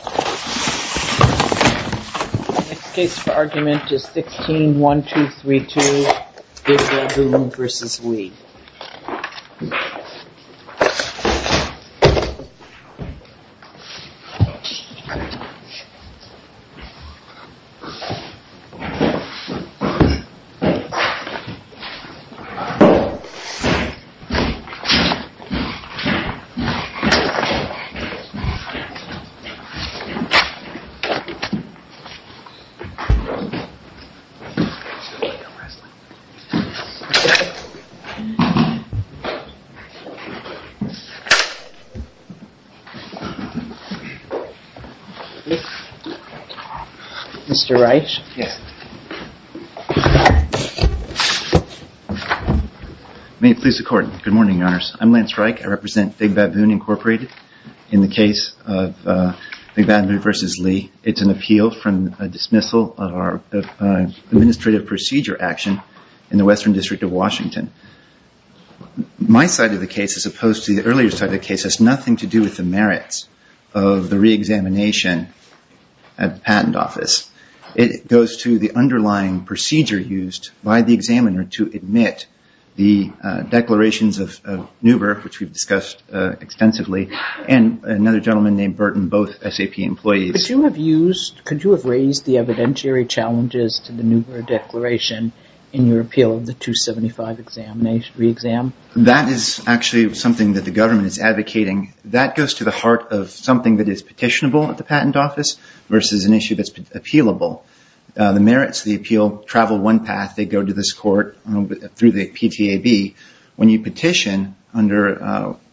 The next case for argument is 16-1232, Big Baboon v. Lee Good morning, Your Honors. I'm Lance Reich. I represent Big Baboon, Inc. in the case of Big Baboon v. Lee. It's an appeal from a dismissal of our administrative procedure action in the Western District of Washington. My side of the case, as opposed to the earlier side of the case, has nothing to do with the merits of the reexamination at the Patent Office. It goes to the underlying procedure used by the examiner to admit the declarations of NUBER, which we've discussed extensively, and another gentleman named Burton, both SAP employees. Could you have raised the evidentiary challenges to the NUBER declaration in your appeal of the 275 reexamination? That is actually something that the government is advocating. That goes to the heart of something that is petitionable at the Patent Office versus an issue that's appealable. The merits of the appeal travel one path. They go to this court through the PTAB. When you petition under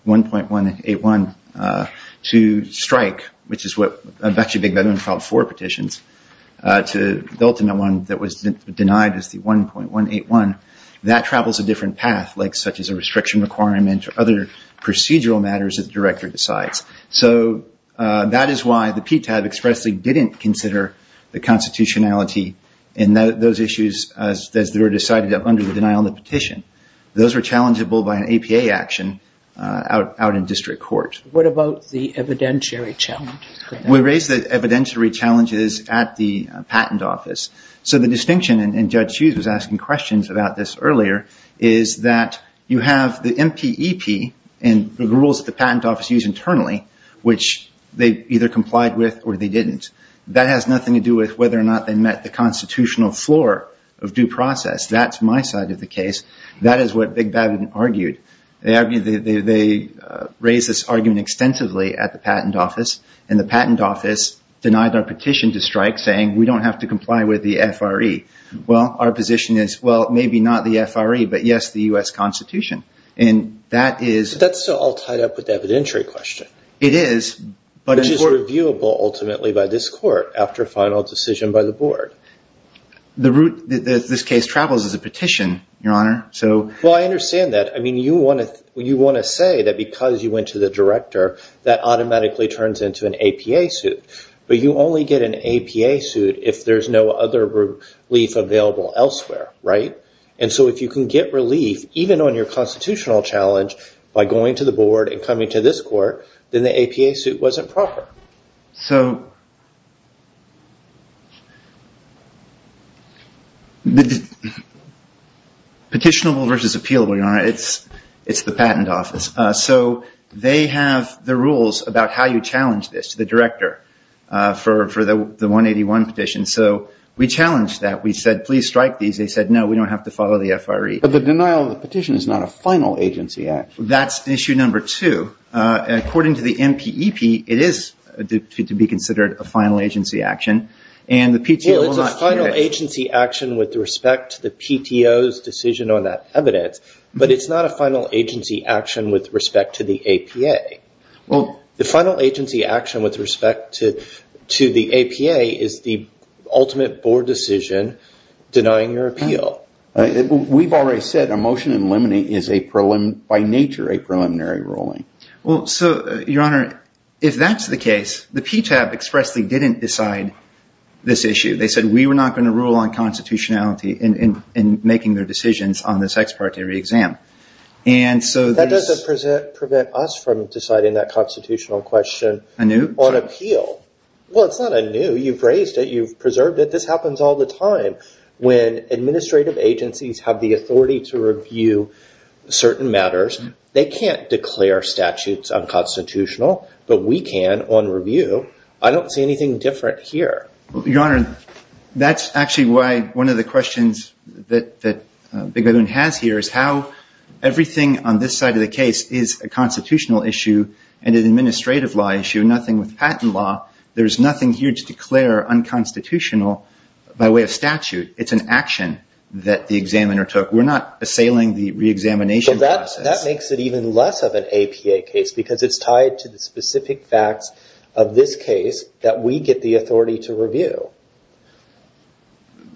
1.181 to strike, which is what actually Big Baboon filed four petitions to, the ultimate one that was denied is the 1.181. That travels a different path, such as a restriction requirement or other procedural matters that the director decides. That is why the PTAB expressly didn't consider the constitutionality in those issues as they were decided under the denial of the petition. Those are challengeable by an APA action out in district court. What about the evidentiary challenges? We raised the evidentiary challenges at the Patent Office. The distinction, and Judge Hughes was asking questions about this earlier, is that you have the MPEP and the rules that the Patent Office used internally, which they either complied with or they didn't. That has nothing to do with whether or not they met the constitutional floor of due process. That's my side of the case. That is what Big Baboon argued. They raised this argument extensively at the Patent Office. The Patent Office denied our petition to strike, saying we don't have to comply with the FRE. Our position is, well, maybe not the FRE, but yes, the U.S. Constitution. That's all tied up with the evidentiary question, which is reviewable ultimately by this court after final decision by the board. This case travels as a petition, Your Honor. I understand that. You want to say that because you went to the director, that automatically turns into an APA suit, but you only get an APA suit if there's no other relief available elsewhere, right? If you can get relief, even on your constitutional challenge, by going to the board and coming to this court, then the APA suit wasn't proper. Petitionable versus appealable, Your Honor, it's the Patent Office. They have the rules about how you challenge this, the director, for the 181 petition. We challenged that. We said, please strike these. They said, no, we don't have to follow the FRE. The denial of the petition is not a final agency action. That's issue number two. According to the MPEP, it is to be considered a final agency action. It's a final agency action with respect to the PTO's decision on that evidence, but it's not a final agency action with respect to the APA. The final agency action with respect to the APA is the ultimate board decision denying your appeal. We've already said a motion in limine is, by nature, a preliminary ruling. Your Honor, if that's the case, the PTAB expressly didn't decide this issue. They said, we were not going to rule on constitutionality in making their decisions on this ex parte re-exam. That doesn't prevent us from deciding that constitutional question on appeal. Well, it's not anew. You've raised it. You've preserved it. This happens all the time. When administrative agencies have the authority to review certain matters, they can't declare statutes unconstitutional, but we can on review. I don't see anything different here. Your Honor, that's actually why one of the questions that the government has here is how everything on this side of the case is a constitutional issue and an administrative law issue, nothing with patent law. There's nothing here to declare unconstitutional by way of statute. It's an action that the examiner took. We're not assailing the re-examination process. That makes it even less of an APA case because it's tied to the specific facts of this case that we get the authority to review.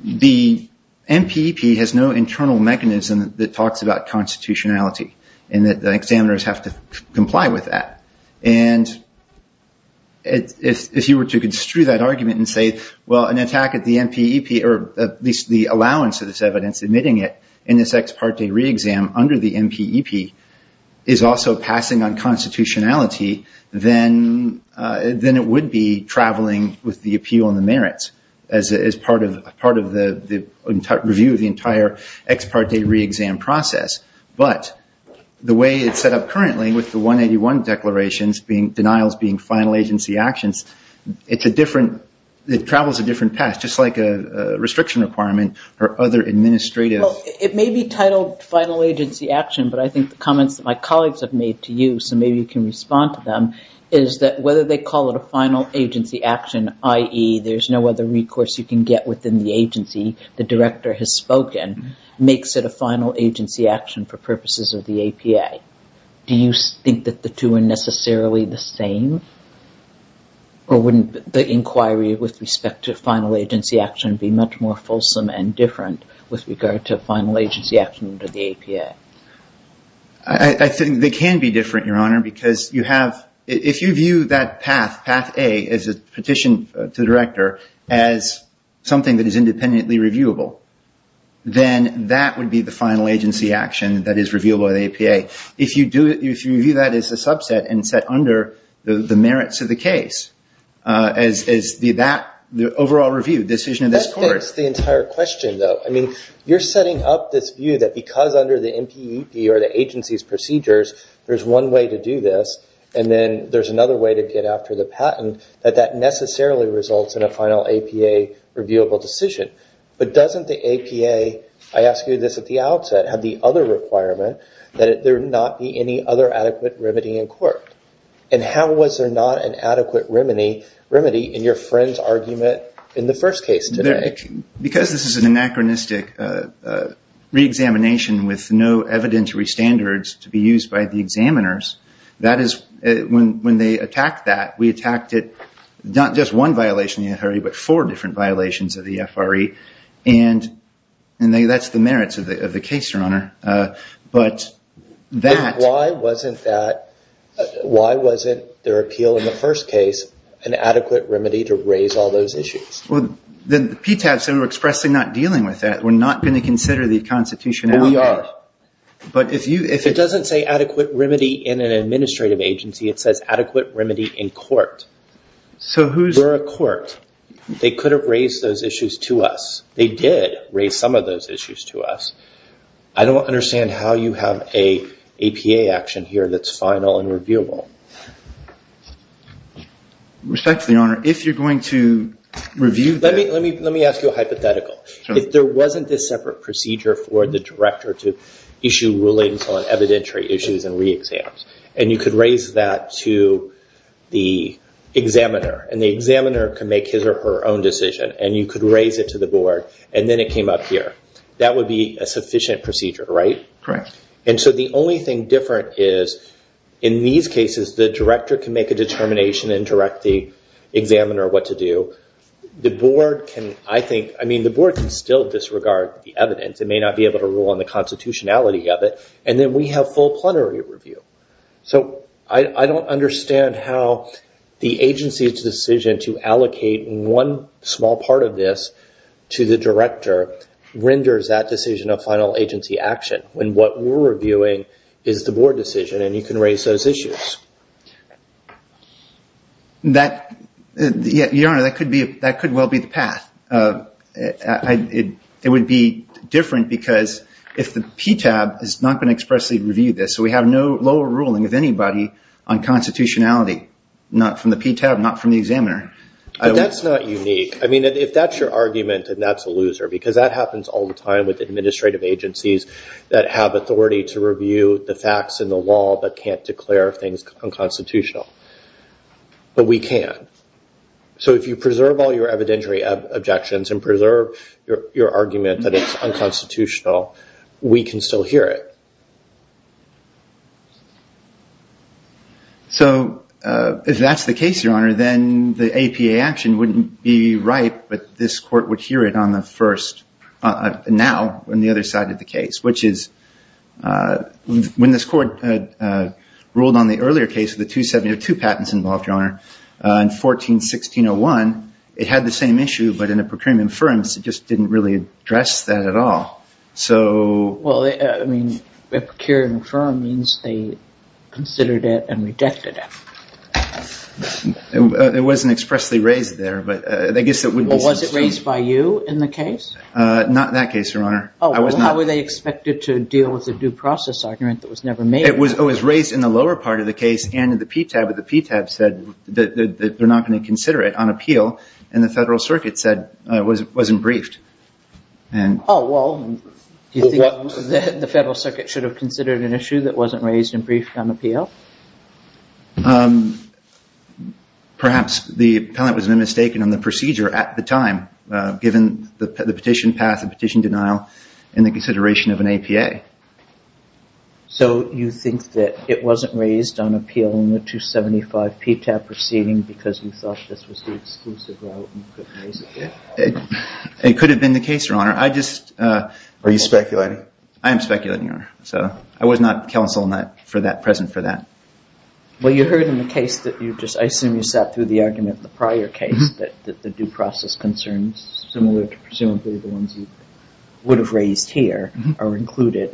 The MPEP has no internal mechanism that talks about constitutionality and that the examiners have to comply with that. If you were to construe that argument and say, well, an attack at the MPEP or at least the allowance of this evidence admitting it in this ex parte re-exam under the MPEP is also passing on constitutionality, then it would be traveling with the appeal on the merits as part of the review of the entire ex parte re-exam process. But the way it's set up currently with the 181 declarations, denials being final agency actions, it travels a different path, just like a restriction requirement or other administrative It may be titled final agency action, but I think the comments that my colleagues have made to you, so maybe you can respond to them, is that whether they call it a final agency action, i.e. there's no other recourse you can get within the agency, the director has spoken, makes it a final agency action for purposes of the APA. Do you think that the two are necessarily the same? Or wouldn't the inquiry with respect to final agency action be much more fulsome and different with regard to final agency action under the APA? I think they can be different, Your Honor, because you have – if you view that path, path A, as a petition to the director, as something that is independently reviewable, then that would be the final agency action that is reviewable by the APA. If you do – if you view that as a subset and set under the merits of the case, as the overall review decision of this court – That fits the entire question, though. I mean, you're setting up this view that because under the NPEP or the agency's procedures, there's one way to do this, and then there's another way to get after the patent, that that necessarily results in a final APA reviewable decision. But doesn't the APA – I asked you this at the outset – have the other requirement that there not be any other adequate remedy in court? And how was there not an adequate remedy in your friend's argument in the first case today? Because this is an anachronistic re-examination with no evidentiary standards to be used by the examiners, that is – when they attacked that, we attacked it – not just one violation of the FRE, but four different violations of the FRE. And that's the merits of the case, Your Honor. But that – why wasn't their appeal in the first case an adequate remedy to raise all those issues? Well, the PTAB said we're expressly not dealing with that. We're not going to consider the Constitution out there. Well, we are. But if you – It doesn't say adequate remedy in an administrative agency. It says adequate remedy in court. So who's – We're a court. They could have raised those issues to us. They did raise some of those issues to us. I don't understand how you have an APA action here that's final and reviewable. Respectfully, Your Honor, if you're going to review – Let me ask you a hypothetical. If there wasn't this separate procedure for the director to issue rulings on evidentiary issues and re-exams, and you could raise that to the examiner, and the examiner can make his or her own decision, and you could raise it to the board, and then it came up here, that would be a sufficient procedure, right? Correct. And so the only thing different is, in these cases, the director can make a determination and direct the examiner what to do. The board can, I think – I mean, the board can still disregard the evidence. It may not be able to rule on the constitutionality of it. And then we have full plenary review. So I don't understand how the agency's decision to allocate one small part of this to the director renders that decision a final agency action, when what we're reviewing is the board decision, and you can raise those issues. Your Honor, that could well be the path. It would be different because if the PTAB has not been expressly reviewed, so we have no lower ruling of anybody on constitutionality, not from the PTAB, not from the examiner. But that's not unique. I mean, if that's your argument, then that's a loser, because that happens all the time with administrative agencies that have authority to review the facts and the law, but can't declare things unconstitutional. But we can. So if you preserve all your evidentiary objections and preserve your argument that it's unconstitutional, we can still hear it. So if that's the case, Your Honor, then the APA action wouldn't be right, but this court would hear it on the first, now, on the other side of the case, which is when this court ruled on the earlier case, the 2702 patents involved, Your Honor, in 14-1601, it had the same issue, but in a procurement firm, so it just didn't really address that at all. Well, I mean, a procurement firm means they considered it and redacted it. It wasn't expressly raised there, but I guess that would be some statement. Well, was it raised by you in the case? Not in that case, Your Honor. Oh, well, how were they expected to deal with the due process argument that was never made? It was raised in the lower part of the case and in the PTAB, but the PTAB said that they're not going to consider it on appeal, and the Federal Circuit said it wasn't briefed. Oh, well, do you think that the Federal Circuit should have considered an issue that wasn't raised and briefed on appeal? Perhaps the appellant was mistaken on the procedure at the time, given the petition path, the petition denial, and the consideration of an APA. So you think that it wasn't raised on appeal in the 275 PTAB proceeding because you thought this was the exclusive route and couldn't raise it there? It could have been the case, Your Honor. Are you speculating? I am speculating, Your Honor. I was not present for that. Well, you heard in the case that you just, I assume you sat through the argument in the prior case that the due process concerns, similar to presumably the ones you would have raised here, are included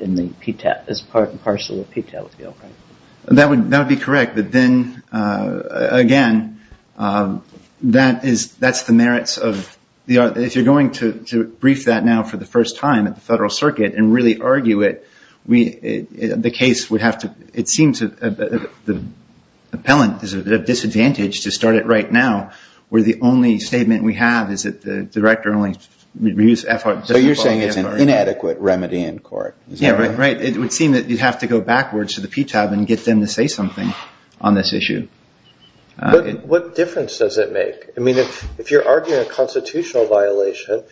as part and parcel of the PTAB appeal, right? That would be correct. But then, again, that's the merits of, if you're going to brief that now for the first time at the Federal Circuit and really argue it, the case would have to, it seems the appellant is at a disadvantage to start it right now where the only statement we have is that the director only reviews FR. So you're saying it's an inadequate remedy in court. Yeah, right. It would seem that you'd have to go backwards to the PTAB and get them to say something on this issue. What difference does it make? I mean, if you're arguing a constitutional violation,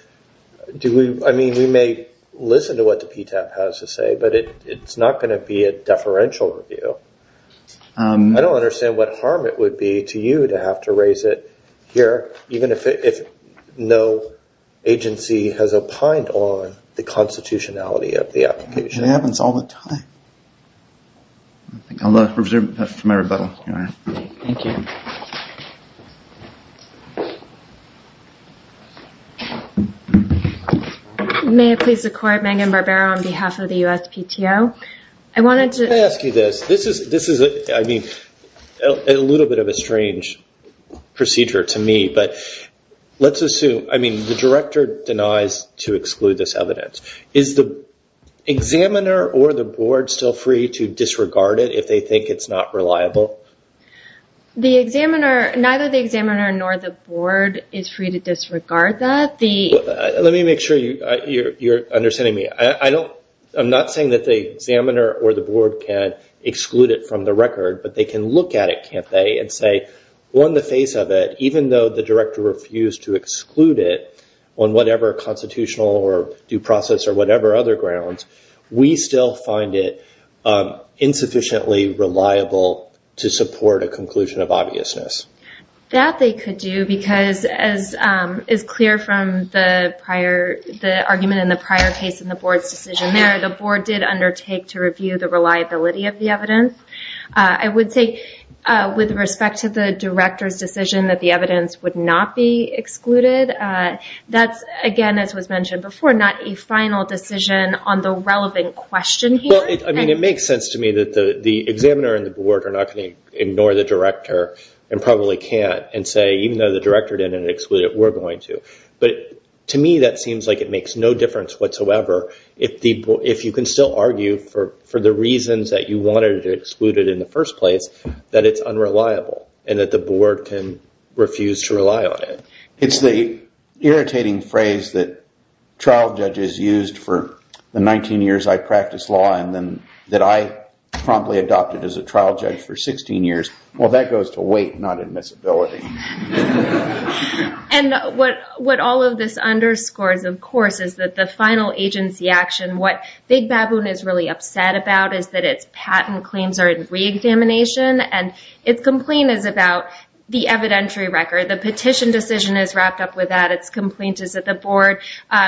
I mean, we may listen to what the PTAB has to say, but it's not going to be a deferential review. I don't understand what harm it would be to you to have to raise it here even if no agency has opined on the constitutionality of the application. It happens all the time. Thank you. May I please record Megan Barbero on behalf of the USPTO? I wanted to ask you this. This is, I mean, a little bit of a strange procedure to me, but let's assume, I mean, the director denies to exclude this evidence. Is the examiner or the board still free to disregard it if they think it's not reliable? Neither the examiner nor the board is free to disregard that. Let me make sure you're understanding me. I'm not saying that the examiner or the board can exclude it from the record, but they can look at it, can't they, and say on the face of it, even though the director refused to exclude it on whatever constitutional or due process or whatever other grounds, we still find it insufficiently reliable to support a conclusion of obviousness. That they could do because, as is clear from the prior, the argument in the prior case in the board's decision there, the board did undertake to review the reliability of the evidence. I would say with respect to the director's decision that the evidence would not be excluded, that's, again, as was mentioned before, not a final decision on the relevant question here. Well, I mean, it makes sense to me that the examiner and the board are not going to ignore the director and probably can't, and say even though the director didn't exclude it, we're going to. But to me, that seems like it makes no difference whatsoever if you can still argue for the reasons that you wanted to exclude it in the first place that it's unreliable and that the board can refuse to rely on it. It's the irritating phrase that trial judges used for the 19 years I practiced law and then that I promptly adopted as a trial judge for 16 years. Well, that goes to weight, not admissibility. And what all of this underscores, of course, is that the final agency action, what Big Baboon is really upset about is that its patent claims are in re-examination and its complaint is about the evidentiary record. The petition decision is wrapped up with that. Its complaint is that the board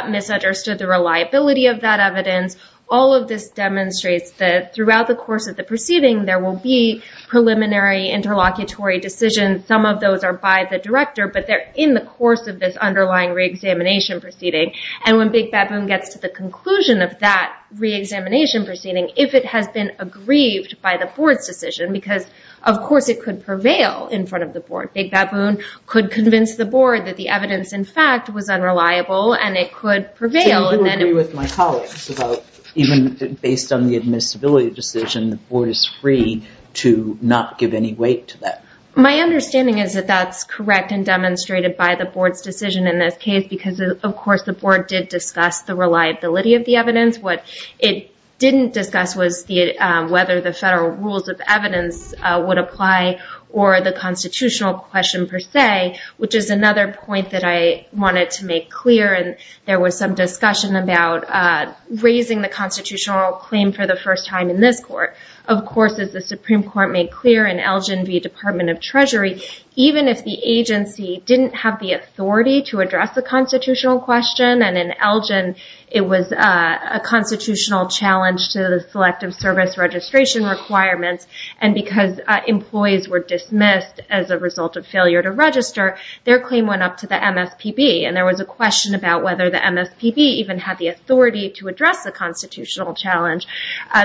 misunderstood the reliability of that evidence. All of this demonstrates that throughout the course of the proceeding, there will be preliminary interlocutory decisions. Some of those are by the director, but they're in the course of this underlying re-examination proceeding. And when Big Baboon gets to the conclusion of that re-examination proceeding, if it has been aggrieved by the board's decision because, of course, it could prevail in front of the board. Big Baboon could convince the board that the evidence, in fact, was unreliable and it could prevail. Do you agree with my colleagues about even based on the admissibility decision, the board is free to not give any weight to that? My understanding is that that's correct and demonstrated by the board's decision in this case because, of course, the board did discuss the reliability of the evidence. What it didn't discuss was whether the federal rules of evidence would apply or the constitutional question per se, which is another point that I wanted to make clear. There was some discussion about raising the constitutional claim for the first time in this court. Of course, as the Supreme Court made clear in Elgin v. Department of Treasury, even if the agency didn't have the authority to address the constitutional question and in Elgin, it was a constitutional challenge to the selective service registration requirements and because employees were dismissed as a result of failure to register, their claim went up to the MSPB. There was a question about whether the MSPB even had the authority to address the constitutional challenge.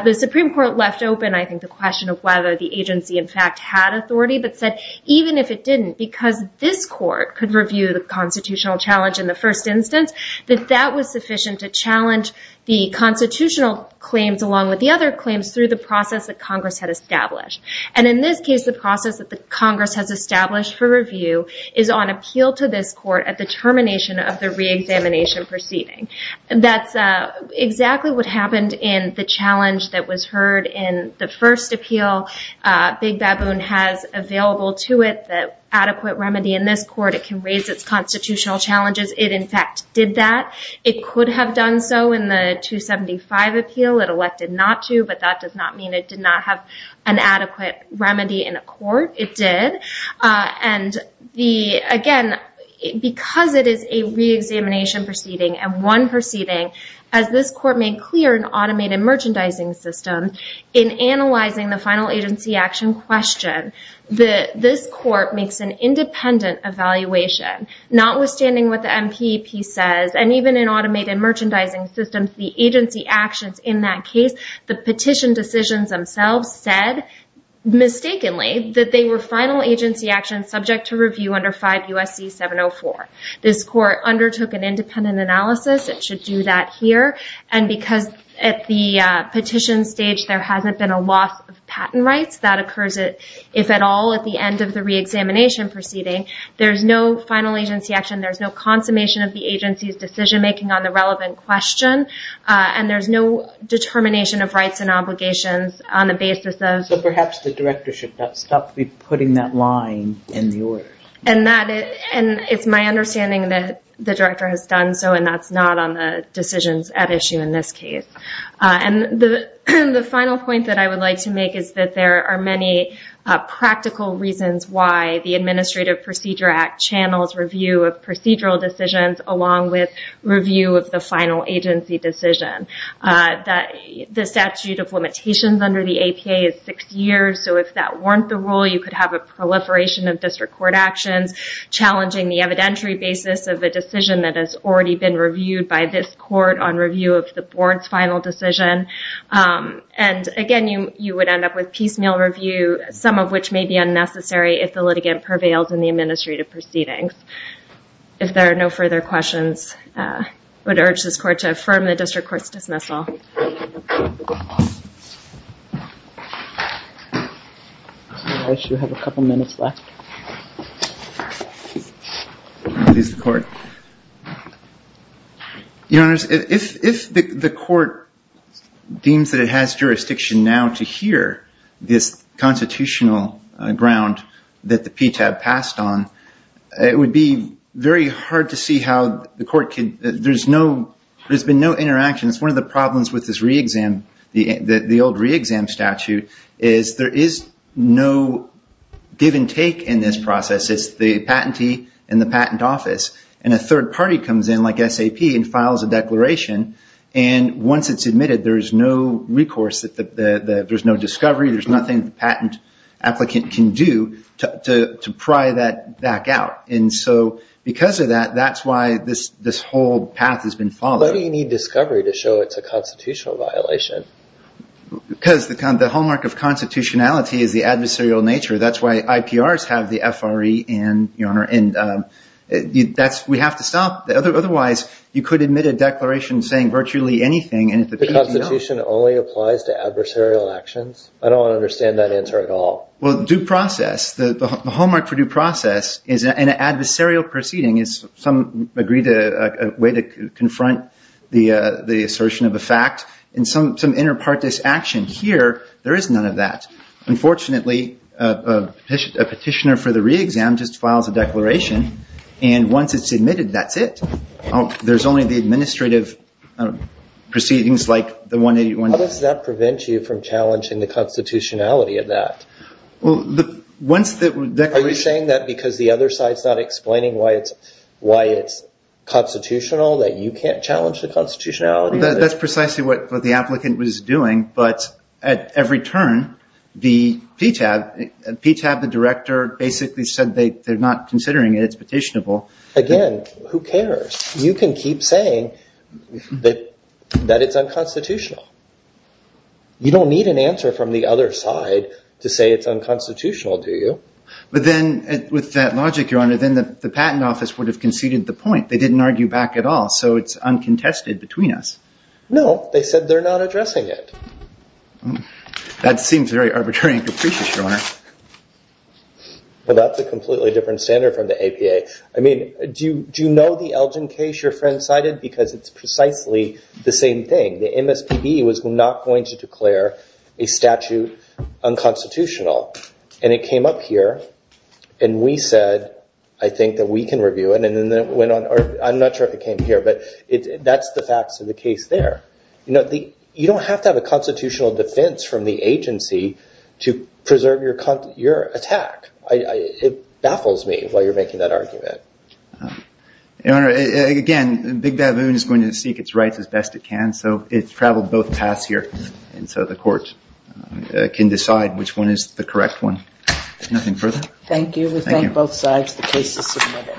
The Supreme Court left open, I think, the question of whether the agency, in fact, had authority but said, even if it didn't, because this court could review the constitutional challenge in the first instance, that that was sufficient to challenge the constitutional claims along with the other claims through the process that Congress had established. In this case, the process that Congress has established for review is on appeal to this court at the termination of the reexamination proceeding. That's exactly what happened in the challenge that was heard in the first appeal. Big Baboon has available to it the adequate remedy in this court. It can raise its constitutional challenges. It, in fact, did that. It could have done so in the 275 appeal. It elected not to, but that does not mean it did not have an adequate remedy in a court. It did. Again, because it is a reexamination proceeding and one proceeding, as this court made clear in automated merchandising system, in analyzing the final agency action question, this court makes an independent evaluation, notwithstanding what the MPEP says. Even in automated merchandising systems, the agency actions in that case, the petition decisions themselves said, mistakenly, that they were final agency actions subject to review under 5 U.S.C. 704. This court undertook an independent analysis. It should do that here. Because at the petition stage, there hasn't been a loss of patent rights, that occurs, if at all, at the end of the reexamination proceeding. There's no final agency action. There's no consummation of the agency's decision-making on the relevant question. There's no determination of rights and obligations on the basis of... Perhaps the director should stop putting that line in the order. It's my understanding that the director has done so, and that's not on the decisions at issue in this case. The final point that I would like to make is that there are many practical reasons why the Administrative Procedure Act channels review of procedural decisions, along with review of the final agency decision. The statute of limitations under the APA is 6 years, so if that weren't the rule, you could have a proliferation of district court actions, challenging the evidentiary basis of a decision that has already been reviewed by this court on review of the board's final decision. Again, you would end up with piecemeal review, some of which may be unnecessary if the litigant prevails in the administrative proceedings. If there are no further questions, I would urge this court to affirm the district court's dismissal. Your Honor, if the court deems that it has jurisdiction now to hear this constitutional ground that the PTAB passed on, it would be very hard to see how the court could... There's been no interaction. It's one of the problems with this re-exam, the old re-exam statute, is there is no give and take in this process. It's the patentee and the patent office, and a third party comes in, like SAP, and files a declaration, and once it's admitted, there's no recourse, there's no discovery, there's nothing the patent applicant can do to pry that back out. And so because of that, that's why this whole path has been followed. Why do you need discovery to show it's a constitutional violation? Because the hallmark of constitutionality is the adversarial nature. That's why IPRs have the FRE and... We have to stop. Otherwise, you could admit a declaration saying virtually anything... The Constitution only applies to adversarial actions? I don't understand that answer at all. Well, due process, the hallmark for due process is an adversarial proceeding is some agreed way to confront the assertion of a fact, and some inter partes action. Here, there is none of that. Unfortunately, a petitioner for the re-exam just files a declaration, and once it's admitted, that's it. There's only the administrative proceedings like the 181... How does that prevent you from challenging the constitutionality of that? Are you saying that because the other side is not explaining why it's constitutional, that you can't challenge the constitutionality? That's precisely what the applicant was doing, but at every turn, the PTAB, the director basically said they're not considering it, it's petitionable. Again, who cares? You can keep saying that it's unconstitutional. You don't need an answer from the other side to say it's unconstitutional, do you? But then, with that logic, Your Honor, then the patent office would have conceded the point. They didn't argue back at all, so it's uncontested between us. No, they said they're not addressing it. That seems very arbitrary and capricious, Your Honor. Well, that's a completely different standard from the APA. I mean, do you know the Elgin case your friend cited? Because it's precisely the same thing. The MSPB was not going to declare a statute unconstitutional, and it came up here, and we said, I think that we can review it, and then it went on. I'm not sure if it came here, but that's the facts of the case there. You don't have to have a constitutional defense from the agency to preserve your attack. It baffles me while you're making that argument. Your Honor, again, Big Baboon is going to seek its rights as best it can, so it's traveled both paths here, and so the court can decide which one is the correct one. If nothing further. Thank you. We thank both sides. The case is submitted. Thank you.